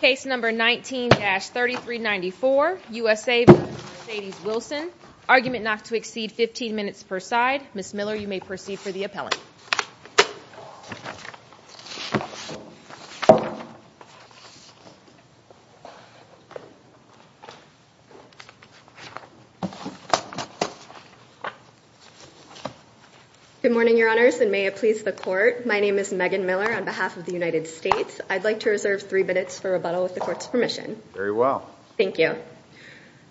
Case number 19-3394, USA v. Mercedes Wilson. Argument not to exceed 15 minutes per side. Ms. Miller, you may proceed for the appellant. Good morning, your honors, and may it please the court. My name is Megan Miller on behalf of the United States. I'd like to reserve three minutes for rebuttal with the court's permission. Very well. Thank you.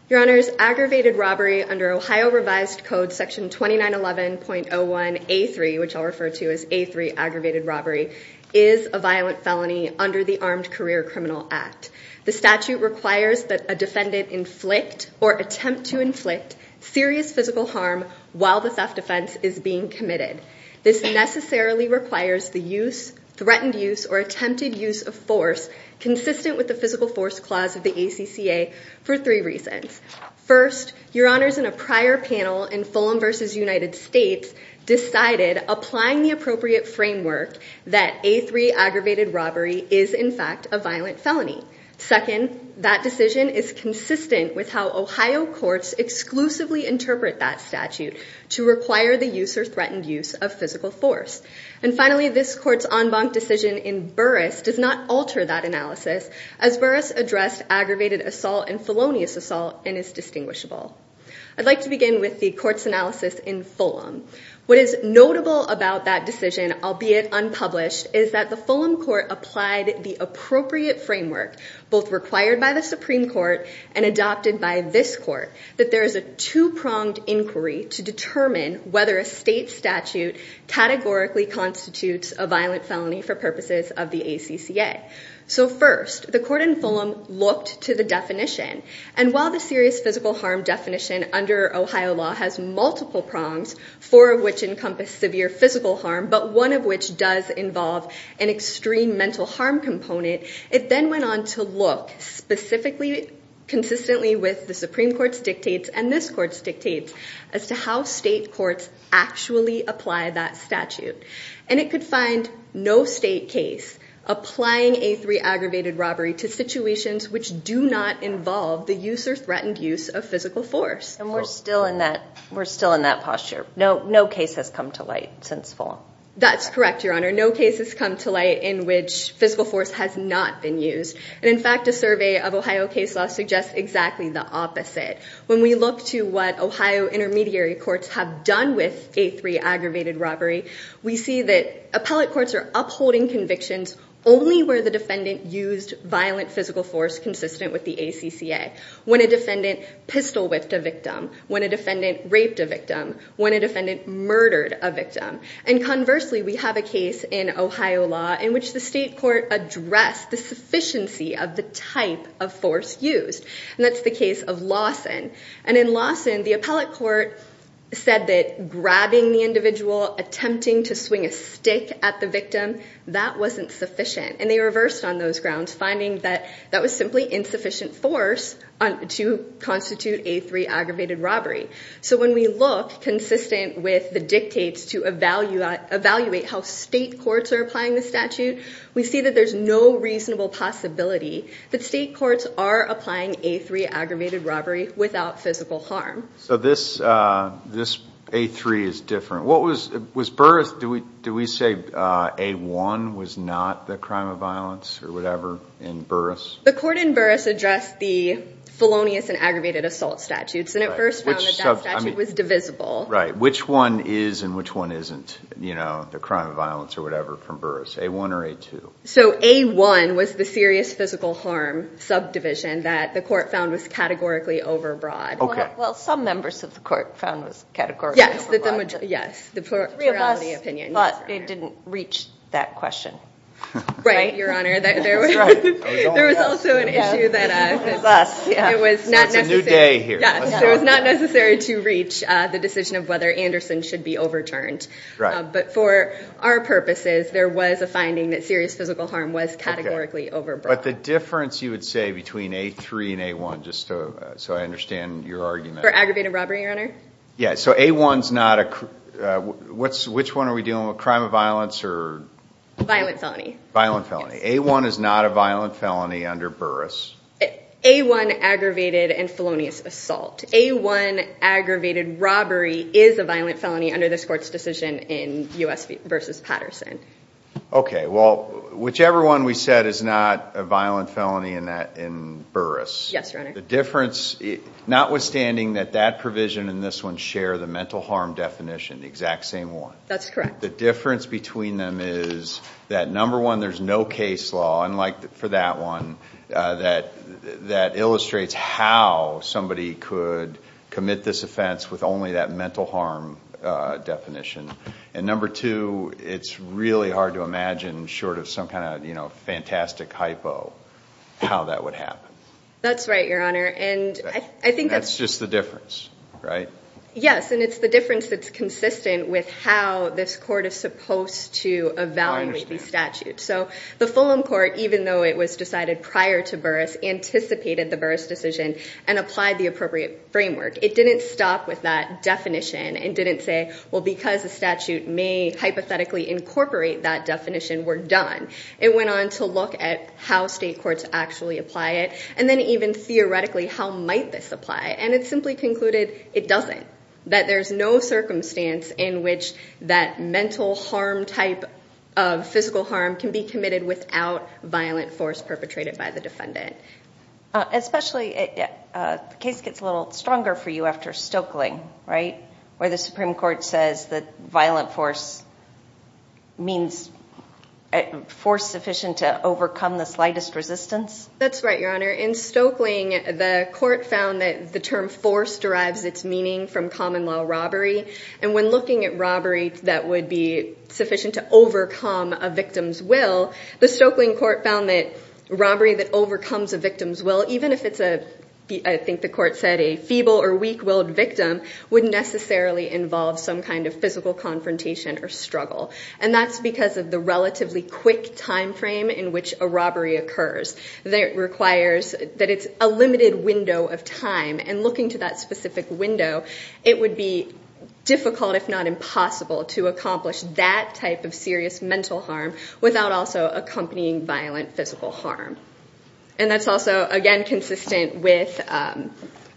Your honors, aggravated robbery under Ohio Revised Code section 2911.01A3, which I'll refer to as A3, aggravated robbery, is a violent felony under the Armed Career Criminal Act. The statute requires that a defendant inflict or attempt to inflict serious physical harm while the theft offense is being committed. This necessarily requires the use, threatened use, or attempted use of force consistent with the physical force clause of the ACCA for three reasons. First, your honors, in a prior panel in Fulham v. United States, decided, applying the appropriate framework, that A3 aggravated robbery is, in fact, a violent felony. Second, that decision is consistent with how Ohio courts exclusively interpret that statute to require the use or threatened use of physical force. And finally, this court's en banc decision in Burris does not alter that analysis, as Burris addressed aggravated assault and felonious assault and is distinguishable. I'd like to begin with the court's analysis in Fulham. What is notable about that decision, albeit unpublished, is that the Fulham court applied the appropriate framework, both required by the Supreme Court and adopted by this court, that there is a two-pronged inquiry to determine whether a state statute categorically constitutes a violent felony for purposes of the ACCA. So first, the court in Fulham looked to the definition. And while the serious physical harm definition under Ohio law has multiple prongs, four of which encompass severe physical harm, but one of which does involve an extreme mental harm component, it then went on to look specifically, consistently with the Supreme Court's dictates and this court's dictates, as to how state courts actually apply that statute. And it could find no state case applying A3 aggravated robbery to situations which do not involve the use or threatened use of physical force. And we're still in that posture. No case has come to light since Fulham. That's correct, Your Honor. No case has come to light in which physical force has not been used. And in fact, a survey of Ohio case law suggests exactly the opposite. When we look to what Ohio intermediary courts have done with A3 aggravated robbery, we see that appellate courts are upholding convictions only where the defendant used violent physical force consistent with the ACCA. When a defendant pistol whipped a victim, when a defendant raped a victim, when a defendant murdered a victim. And conversely, we have a case in Ohio law in which the state court addressed the sufficiency of the type of force used. And that's the case of Lawson. And in Lawson, the appellate court said that grabbing the individual, attempting to swing a stick at the victim, that wasn't sufficient. And they reversed on those grounds, finding that that was simply insufficient force to constitute A3 aggravated robbery. So when we look consistent with the dictates to evaluate how state courts are applying the statute, we see that there's no reasonable possibility that state courts are applying A3 aggravated robbery without physical harm. So this A3 is different. What was, was Burris, do we say A1 was not the crime of violence or whatever in Burris? The court in Burris addressed the felonious and aggravated assault statutes, and it first found that that statute was divisible. Right, which one is and which one isn't, you know, the crime of violence or whatever from Burris, A1 or A2? So A1 was the serious physical harm subdivision that the court found was categorically overbroad. Okay. Well, some members of the court found it was categorically overbroad. Yes, yes, the plurality opinion. But it didn't reach that question. Right, Your Honor, there was also an issue that it was not necessary to reach the decision of whether Anderson should be overturned. Right. But for our purposes, there was a finding that serious physical harm was categorically overbroad. But the difference, you would say, between A3 and A1, just so I understand your argument. For aggravated robbery, Your Honor? Yeah, so A1's not a, which one are we dealing with, crime of violence or? Violent felony. Violent felony. A1 is not a violent felony under Burris. A1 aggravated and felonious assault. A1 aggravated robbery is a violent felony under this court's decision in U.S. v. Patterson. Okay, well, whichever one we said is not a violent felony in Burris. Yes, Your Honor. The difference, notwithstanding that that provision and this one share the mental harm definition, the exact same one. That's correct. The difference between them is that, number one, there's no case law, unlike for that one, that illustrates how somebody could commit this offense with only that mental harm definition. And number two, it's really hard to imagine, short of some kind of fantastic hypo, how that would happen. That's right, Your Honor, and I think that's- And that's just the difference, right? Yes, and it's the difference that's consistent with how this court is supposed to evaluate the statute. So the Fulham Court, even though it was decided prior to Burris, anticipated the Burris decision and applied the appropriate framework. It didn't stop with that definition and didn't say, well, because the statute may hypothetically incorporate that definition, we're done. It went on to look at how state courts actually apply it, and then even theoretically, how might this apply? And it simply concluded it doesn't, that there's no circumstance in which that mental harm type of physical harm can be committed without violent force perpetrated by the defendant. Especially, the case gets a little stronger for you after Stoeckling, right? Where the Supreme Court says that violent force means force sufficient to overcome the slightest resistance? That's right, Your Honor. In Stoeckling, the court found that the term force derives its meaning from common law robbery. And when looking at robbery that would be sufficient to overcome a victim's will, the Stoeckling Court found that robbery that overcomes a victim's will, even if it's a, I think the court said, a feeble or weak-willed victim, would necessarily involve some kind of physical confrontation or struggle. And that's because of the relatively quick time frame in which a robbery occurs. That requires, that it's a limited window of time, and looking to that specific window, it would be difficult, if not impossible, to accomplish that type of serious mental harm without also accompanying violent physical harm. And that's also, again, consistent with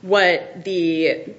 what the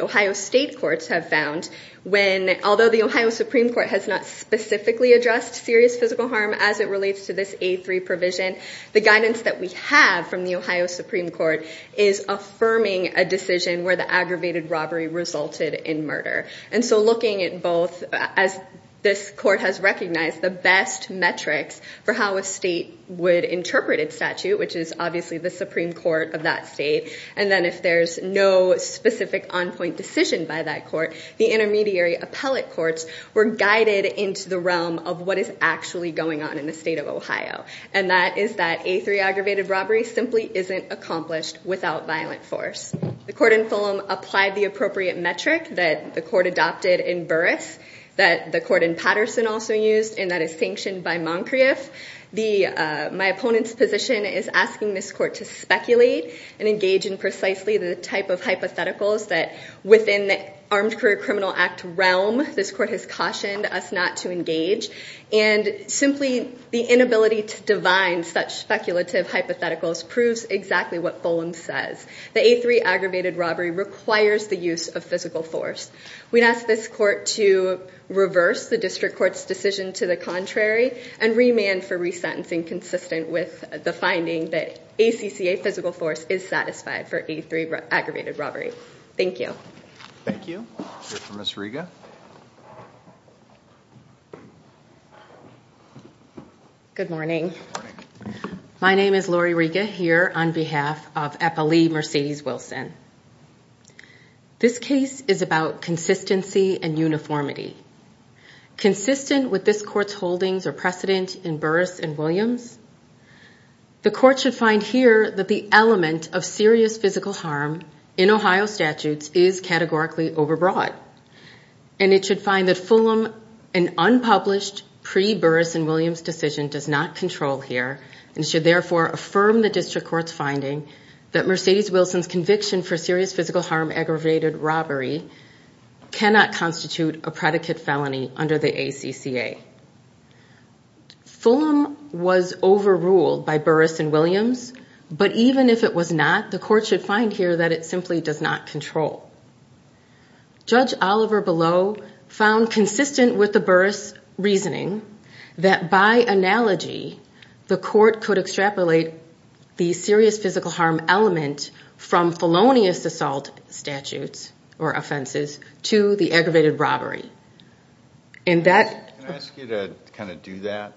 Ohio State Courts have found. When, although the Ohio Supreme Court has not specifically addressed serious physical harm as it relates to this A3 provision, the guidance that we have from the Ohio Supreme Court is affirming a decision where the aggravated robbery resulted in murder. And so looking at both, as this court has recognized, the best metrics for how a state would interpret its statute, which is obviously the Supreme Court of that state. And then if there's no specific on-point decision by that court, the intermediary appellate courts were guided into the realm of what is actually going on in the state of Ohio. And that is that A3 aggravated robbery simply isn't accomplished without violent force. The court in Fulham applied the appropriate metric that the court adopted in Burris, that the court in Patterson also used, and that is sanctioned by Moncrieff. My opponent's position is asking this court to speculate and engage in precisely the type of hypotheticals that within the Armed Career Criminal Act realm, this court has cautioned us not to engage. And simply the inability to divine such speculative hypotheticals proves exactly what Fulham says. The A3 aggravated robbery requires the use of physical force. We'd ask this court to reverse the district court's decision to the contrary and remand for resentencing consistent with the finding that ACCA physical force is satisfied for A3 aggravated robbery. Thank you. Thank you. Here for Ms. Riga. Good morning. Good morning. My name is Lori Riga here on behalf of Eppley Mercedes Wilson. This case is about consistency and uniformity. Consistent with this court's holdings or precedent in Burris and Williams, the court should find here that the element of serious physical harm in Ohio statutes is categorically overbroad. And it should find that Fulham, an unpublished pre-Burris and Williams decision does not control here, and should therefore affirm the district court's finding that Mercedes Wilson's conviction for serious physical harm aggravated robbery cannot constitute a predicate felony under the ACCA. Fulham was overruled by Burris and Williams, but even if it was not, the court should find here that it simply does not control. Judge Oliver Below found consistent with the Burris reasoning that by analogy, the court could extrapolate the serious physical harm element from felonious assault statutes or offenses to the aggravated robbery. And that- Can I ask you to kind of do that?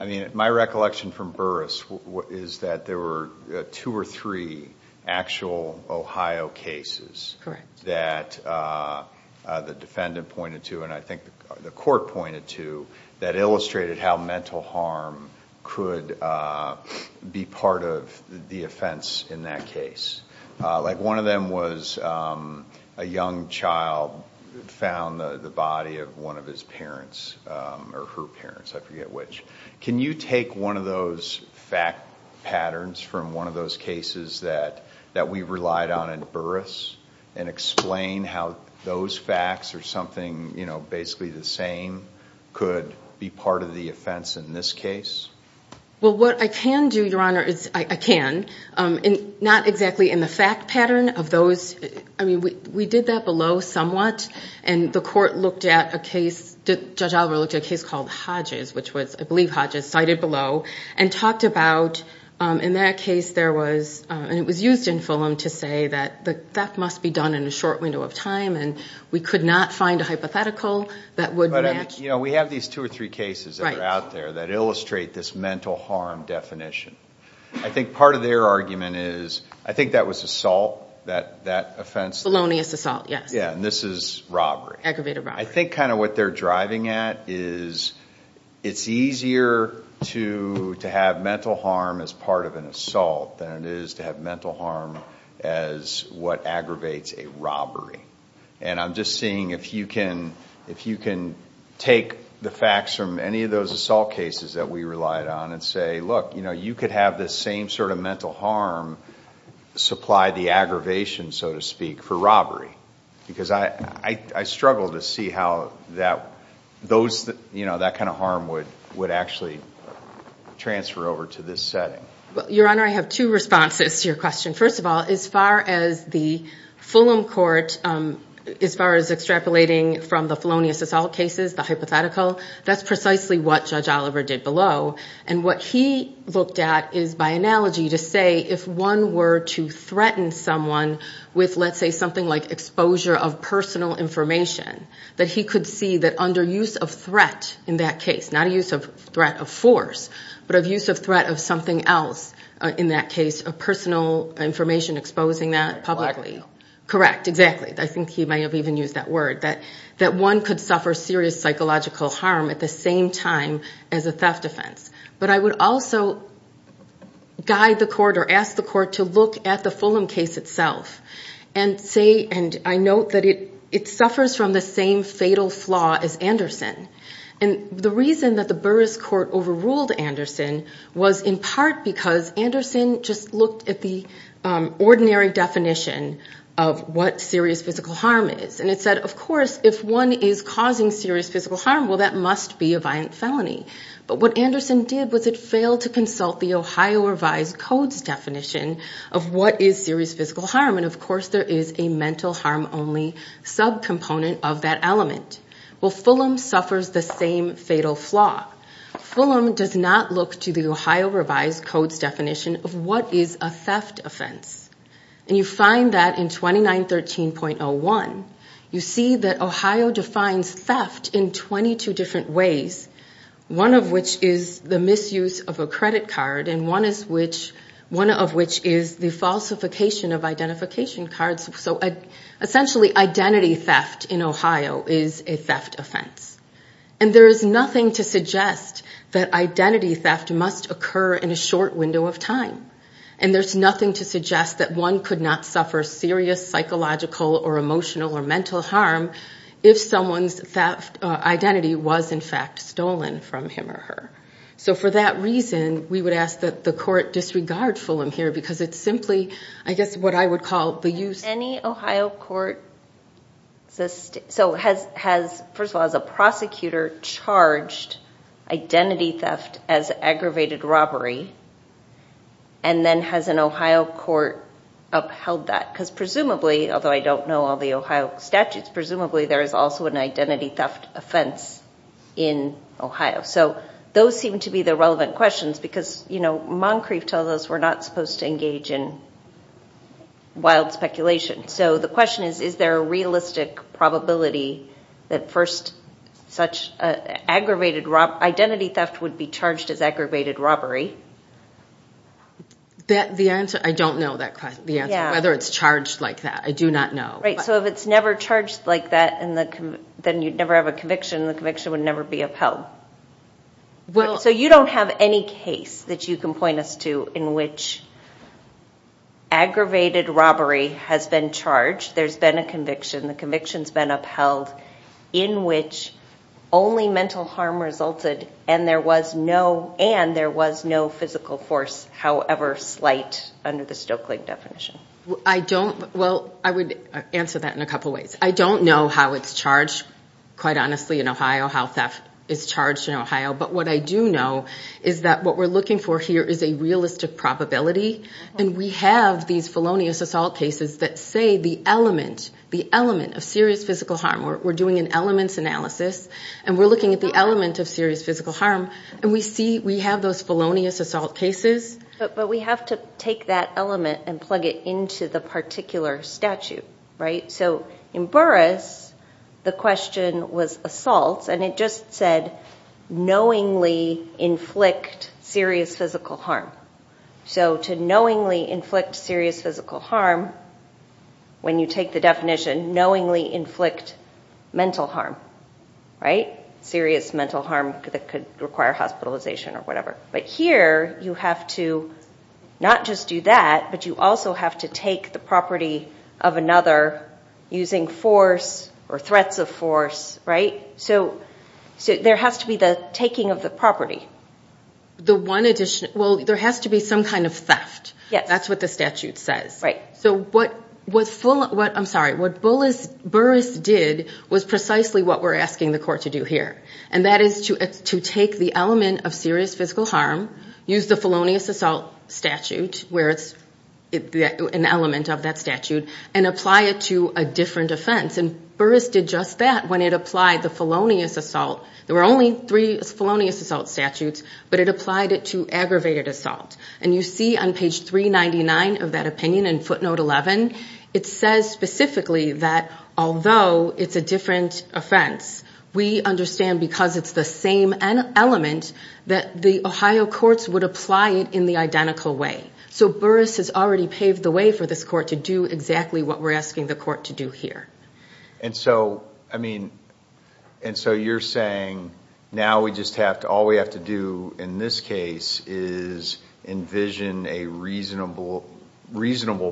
I mean, my recollection from Burris is that there were two or three actual Ohio cases that the defendant pointed to, and I think the court pointed to, that illustrated how mental harm could be part of the offense in that case. Like one of them was a young child found the body of one of his parents, or her parents, I forget which. Can you take one of those fact patterns from one of those cases that we relied on in Burris and explain how those facts or something basically the same could be part of the offense in this case? Well, what I can do, Your Honor, is I can. Not exactly in the fact pattern of those. I mean, we did that Below somewhat, and the court looked at a case, Judge Oliver looked at a case called Hodges, which was, I believe, Hodges, cited Below, and talked about, in that case, it was used in Fulham to say that that must be done in a short window of time, and we could not find a hypothetical that would match. We have these two or three cases that are out there that illustrate this mental harm definition. I think part of their argument is, I think that was assault, that offense. Felonious assault, yes. Yeah, and this is robbery. Aggravated robbery. I think kind of what they're driving at is, it's easier to have mental harm as part of an assault than it is to have mental harm as what aggravates a robbery. And I'm just seeing if you can take the facts from any of those assault cases that we relied on and say, look, you could have the same sort of mental harm supply the aggravation, so to speak, for robbery. Because I struggle to see how that kind of harm would actually transfer over to this setting. Your Honor, I have two responses to your question. First of all, as far as the Fulham court, as far as extrapolating from the felonious assault cases, the hypothetical, that's precisely what Judge Oliver did Below. And what he looked at is, by analogy, to say, if one were to threaten someone with, let's say, something like exposure of personal information, that he could see that under use of threat in that case, not a use of threat of force, but of use of threat of something else in that case, of personal information exposing that publicly. Correct, exactly. I think he may have even used that word, that one could suffer serious psychological harm at the same time as a theft offense. But I would also guide the court or ask the court to look at the Fulham case itself and say, and I note that it suffers from the same fatal flaw as Anderson. And the reason that the Burris court overruled Anderson was in part because Anderson just looked at the ordinary definition of what serious physical harm is. And it said, of course, if one is causing serious physical harm, well, that must be a violent felony. But what Anderson did was it failed to consult the Ohio revised codes definition of what is serious physical harm. And of course, there is a mental harm only subcomponent of that element. Well, Fulham suffers the same fatal flaw. Fulham does not look to the Ohio revised codes definition of what is a theft offense. And you find that in 2913.01, you see that Ohio defines theft in 22 different ways, one of which is the misuse of a credit card, and one of which is the falsification of identification cards. So essentially, identity theft in Ohio is a theft offense. And there is nothing to suggest that identity theft must occur in a short window of time. And there's nothing to suggest that one could not suffer serious psychological or emotional or mental harm if someone's theft identity was, in fact, stolen from him or her. So for that reason, we would ask that the court disregard Fulham here, because it's simply, I guess, what I would call the use. Any Ohio court has, first of all, as a prosecutor, charged identity theft as aggravated robbery? And then has an Ohio court upheld that? Because presumably, although I don't know all the Ohio statutes, presumably, there is also an identity theft offense in Ohio. So those seem to be the relevant questions, because Moncrief tells us we're not supposed to engage in wild speculation. So the question is, is there a realistic probability that first such identity theft would be charged as aggravated robbery? That the answer, I don't know the answer, whether it's charged like that. I do not know. So if it's never charged like that, then you'd never have a conviction. The conviction would never be upheld. So you don't have any case that you can point us to in which aggravated robbery has been charged. There's been a conviction. The conviction's been upheld in which only mental harm resulted and there was no physical force, however slight, under the Stokely definition. I don't. Well, I would answer that in a couple of ways. I don't know how it's charged, quite honestly, in Ohio, how theft is charged in Ohio. But what I do know is that what we're looking for here is a realistic probability. And we have these felonious assault cases that say the element, the element of serious physical harm. We're doing an elements analysis and we're looking at the element of serious physical harm. And we see we have those felonious assault cases. But we have to take that element and plug it to the particular statute. So in Burris, the question was assaults. And it just said knowingly inflict serious physical harm. So to knowingly inflict serious physical harm, when you take the definition, knowingly inflict mental harm, serious mental harm that could require hospitalization or whatever. But here, you have to not just do that, but you also have to take the property of another using force or threats of force. So there has to be the taking of the property. The one addition? Well, there has to be some kind of theft. That's what the statute says. So what Burris did was precisely what we're asking the court to do here. And that is to take the element of serious physical harm, use the felonious assault statute, where it's an element of that statute, and apply it to a different offense. And Burris did just that when it applied the felonious assault. There were only three felonious assault statutes. But it applied it to aggravated assault. And you see on page 399 of that opinion in footnote 11, it says specifically that although it's a different offense, we understand because it's the same element that the Ohio courts would apply it in the identical way. So Burris has already paved the way for this court to do exactly what we're asking the court to do here. And so you're saying now all we have to do in this case is envision a reasonable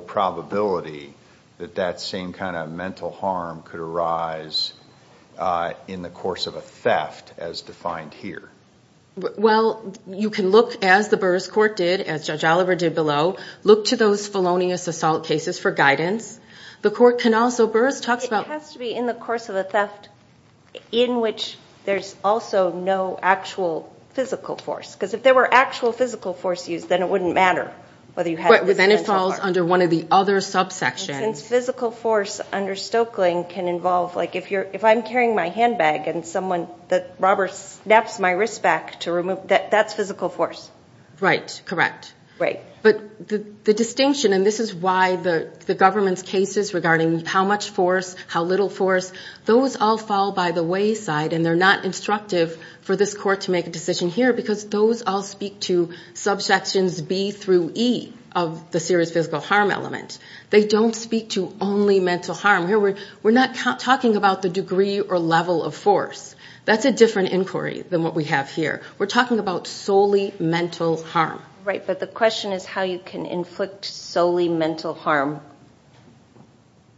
probability that that same kind of mental harm could arise in the course of a theft, as defined here? Well, you can look, as the Burris court did, as Judge Oliver did below, look to those felonious assault cases for guidance. The court can also, Burris talks about- It has to be in the course of a theft in which there's also no actual physical force. Because if there were actual physical force used, then it wouldn't matter whether you had- But then it falls under one of the other subsections. Since physical force under Stoeckling can involve, like if I'm carrying my handbag and someone, the robber snaps my wrist back to remove, that's physical force. Right, correct. But the distinction, and this is why the government's cases regarding how much force, how little force, those all fall by the wayside. And they're not instructive for this court to make a decision here, because those all speak to subsections B through E of the serious physical harm element. They don't speak to only mental harm. Here we're not talking about the degree or level of force. That's a different inquiry than what we have here. We're talking about solely mental harm. Right, but the question is how you can inflict solely mental harm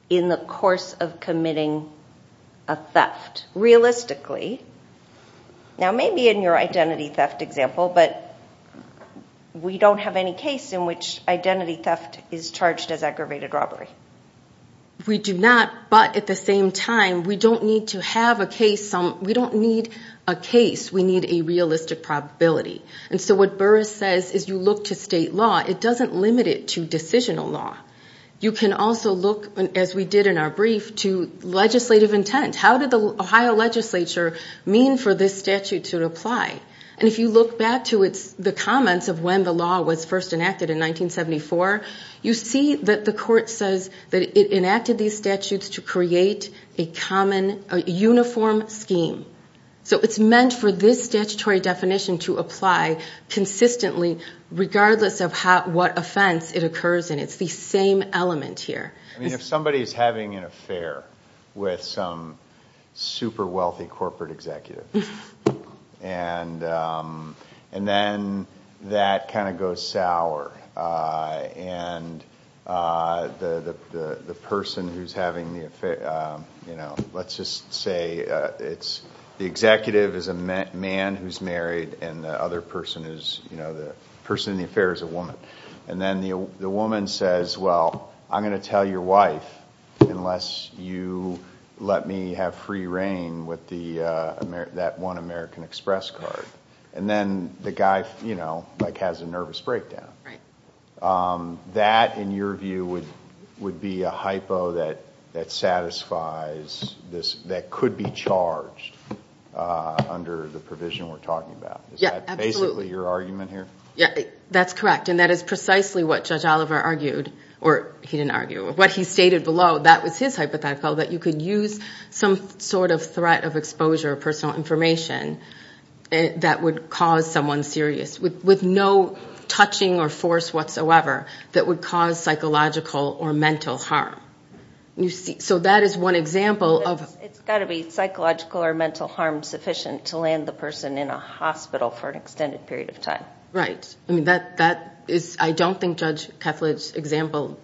in the course of committing a theft. Realistically, now maybe in your identity theft example, but we don't have any case in which identity theft is charged as aggravated robbery. We do not, but at the same time, we don't need to have a case. We don't need a case. We need a realistic probability. And so what Burris says is you look to state law. It doesn't limit it to decisional law. You can also look, as we did in our brief, to legislative intent. How did the Ohio legislature mean for this statute to apply? And if you look back to the comments of when the law was first enacted in 1974, you see that the court says that it enacted these statutes to create a common, a uniform scheme. So it's meant for this statutory definition to apply consistently regardless of what offense it occurs in. It's the same element here. I mean, if somebody's having an affair with some super wealthy corporate executive, and then that kind of goes sour. And the person who's having the affair, let's just say it's the executive is a man who's married and the other person is, the person in the affair is a woman. And then the woman says, well, I'm gonna tell your wife unless you let me have free reign with that one American Express card. And then the guy has a nervous breakdown. That, in your view, would be a hypo that satisfies this, that could be charged under the provision we're talking about. Is that basically your argument here? Yeah, that's correct. And that is precisely what Judge Oliver argued, or he didn't argue. What he stated below, that was his hypothetical, that you could use some sort of threat of exposure or personal information that would cause someone serious with no touching or force whatsoever that would cause psychological or mental harm. You see, so that is one example of- It's gotta be psychological or mental harm sufficient to land the person in a hospital for an extended period of time. Right, I mean, that is, I don't think Judge Kethledge's example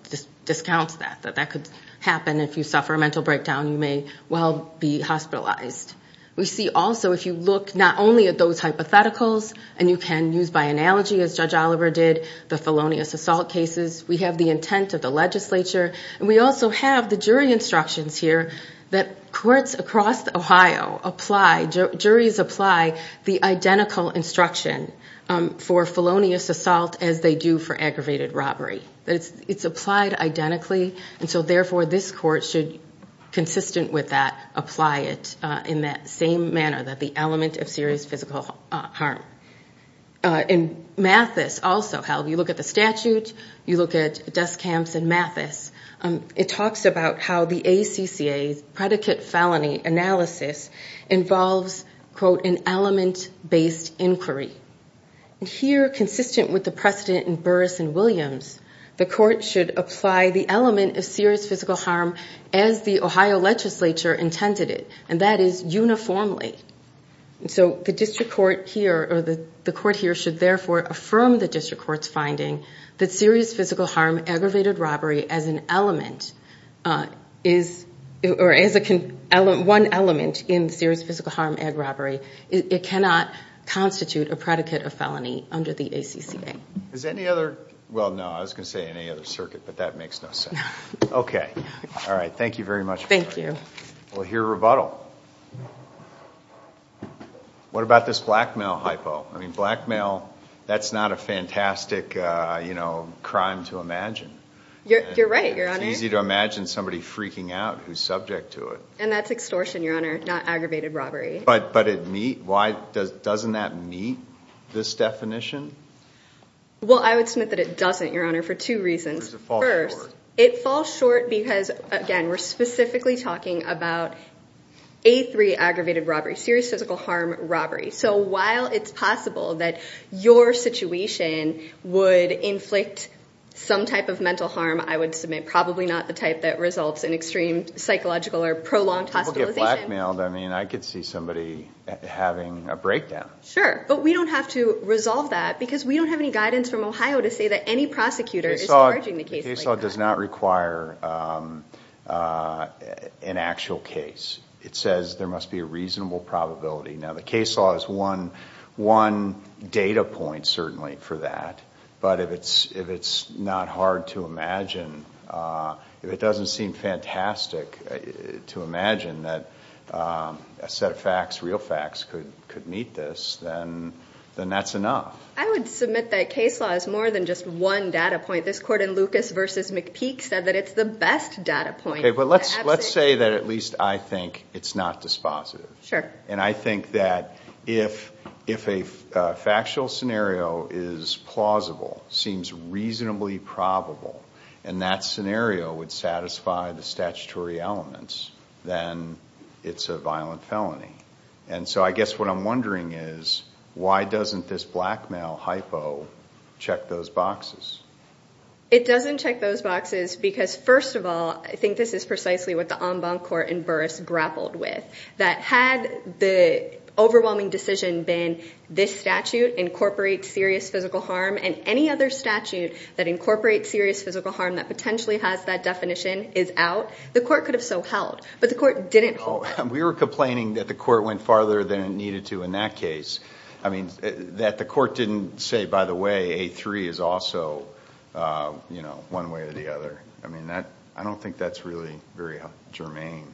discounts that, that could happen if you suffer a mental breakdown, you may well be hospitalized. We see also, if you look not only at those hypotheticals, and you can use by analogy, as Judge Oliver did, the felonious assault cases, we have the intent of the legislature, and we also have the jury instructions here that courts across Ohio apply, juries apply the identical instruction for felonious assault as they do for aggravated robbery. That it's applied identically, and so therefore this court should, consistent with that, apply it in that same manner, that the element of serious physical harm. In Mathis also, how you look at the statute, you look at Duskamp's and Mathis, it talks about how the ACCA's predicate felony analysis involves, quote, an element-based inquiry. And here, consistent with the precedent in Burris and Williams, the court should apply the element of serious physical harm as the Ohio legislature intended it, and that is uniformly. So the district court here, or the court here, should therefore affirm the district court's finding that serious physical harm aggravated robbery as an element is, or as one element in serious physical harm ag robbery, it cannot constitute a predicate of felony under the ACCA. Is there any other, well, no, I was gonna say any other circuit, but that makes no sense. Okay, all right, thank you very much. Thank you. We'll hear rebuttal. What about this blackmail hypo? I mean, blackmail, that's not a fantastic, you know, crime to imagine. You're right, your honor. It's easy to imagine somebody freaking out who's subject to it. And that's extortion, your honor, not aggravated robbery. But it meet, why, doesn't that meet this definition? Well, I would submit that it doesn't, your honor, for two reasons. First, it falls short because, again, we're specifically talking about A3 aggravated robbery, serious physical harm robbery. So while it's possible that your situation would inflict some type of mental harm, I would submit probably not the type that results in extreme psychological or prolonged hospitalization. People get blackmailed, I mean, I could see somebody having a breakdown. Sure, but we don't have to resolve that because we don't have any guidance from Ohio to say that any prosecutor is charging the case like that. The case law does not require an actual case. It says there must be a reasonable probability. Now, the case law is one data point, certainly, for that. But if it's not hard to imagine, if it doesn't seem fantastic to imagine that a set of facts, real facts, could meet this, then that's enough. I would submit that case law is more than just one data point. This court in Lucas v. McPeak said that it's the best data point. Okay, but let's say that at least I think it's not dispositive. Sure. And I think that if a factual scenario is plausible, seems reasonably probable, and that scenario would satisfy the statutory elements, then it's a violent felony. And so I guess what I'm wondering is, why doesn't this blackmail hypo check those boxes? It doesn't check those boxes because, first of all, I think this is precisely what the en banc court in Burris grappled with, that had the overwhelming decision been this statute incorporates serious physical harm, and any other statute that incorporates serious physical harm that potentially has that definition is out, the court could have so held. But the court didn't hold. We were complaining that the court went farther than it needed to in that case. I mean, that the court didn't say, by the way, A3 is also one way or the other. I mean, I don't think that's really very germane.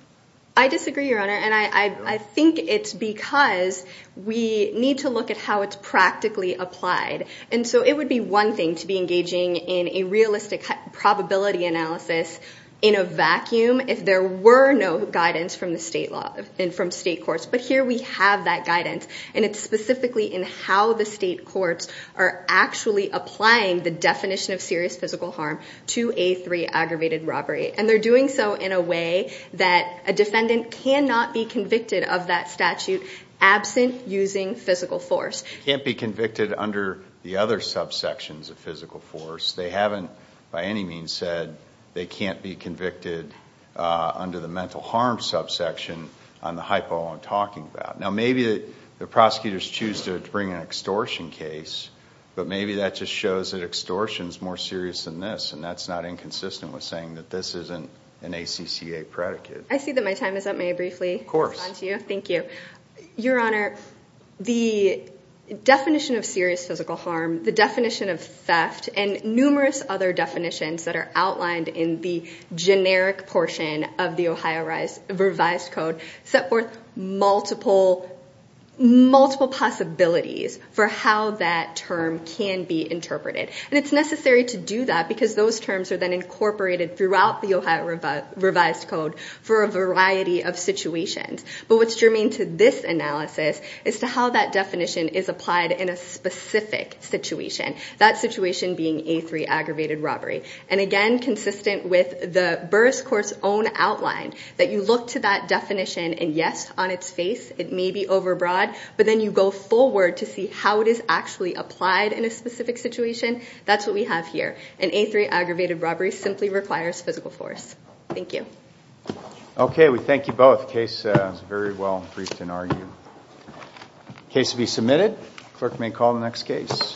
I disagree, Your Honor. And I think it's because we need to look at how it's practically applied. And so it would be one thing to be engaging in a realistic probability analysis in a vacuum if there were no guidance from the state law and from state courts. But here we have that guidance. And it's specifically in how the state courts are actually applying the definition of serious physical harm to A3 aggravated robbery. And they're doing so in a way that a defendant cannot be convicted of that statute absent using physical force. Can't be convicted under the other subsections of physical force. They haven't by any means said they can't be convicted under the mental harm subsection on the hypo I'm talking about. Now, maybe the prosecutors choose to bring an extortion case, but maybe that just shows that extortion's more serious than this. And that's not inconsistent with saying that this isn't an ACCA predicate. I see that my time is up. May I briefly respond to you? Of course. Thank you. Your Honor, the definition of serious physical harm, the definition of theft, and numerous other definitions that are outlined in the generic portion of the Ohio Revised Code set forth multiple possibilities for how that term can be interpreted. And it's necessary to do that because those terms are then incorporated throughout the Ohio Revised Code for a variety of situations. But what's germane to this analysis is to how that definition is applied in a specific situation. That situation being A3, aggravated robbery. And again, consistent with the Burris Court's own outline that you look to that definition, and yes, on its face, it may be overbroad, but then you go forward to see how it is actually applied in a specific situation. That's what we have here. An A3, aggravated robbery simply requires physical force. Thank you. Okay, we thank you both. Case is very well briefed and argued. Case to be submitted. Clerk may call the next case.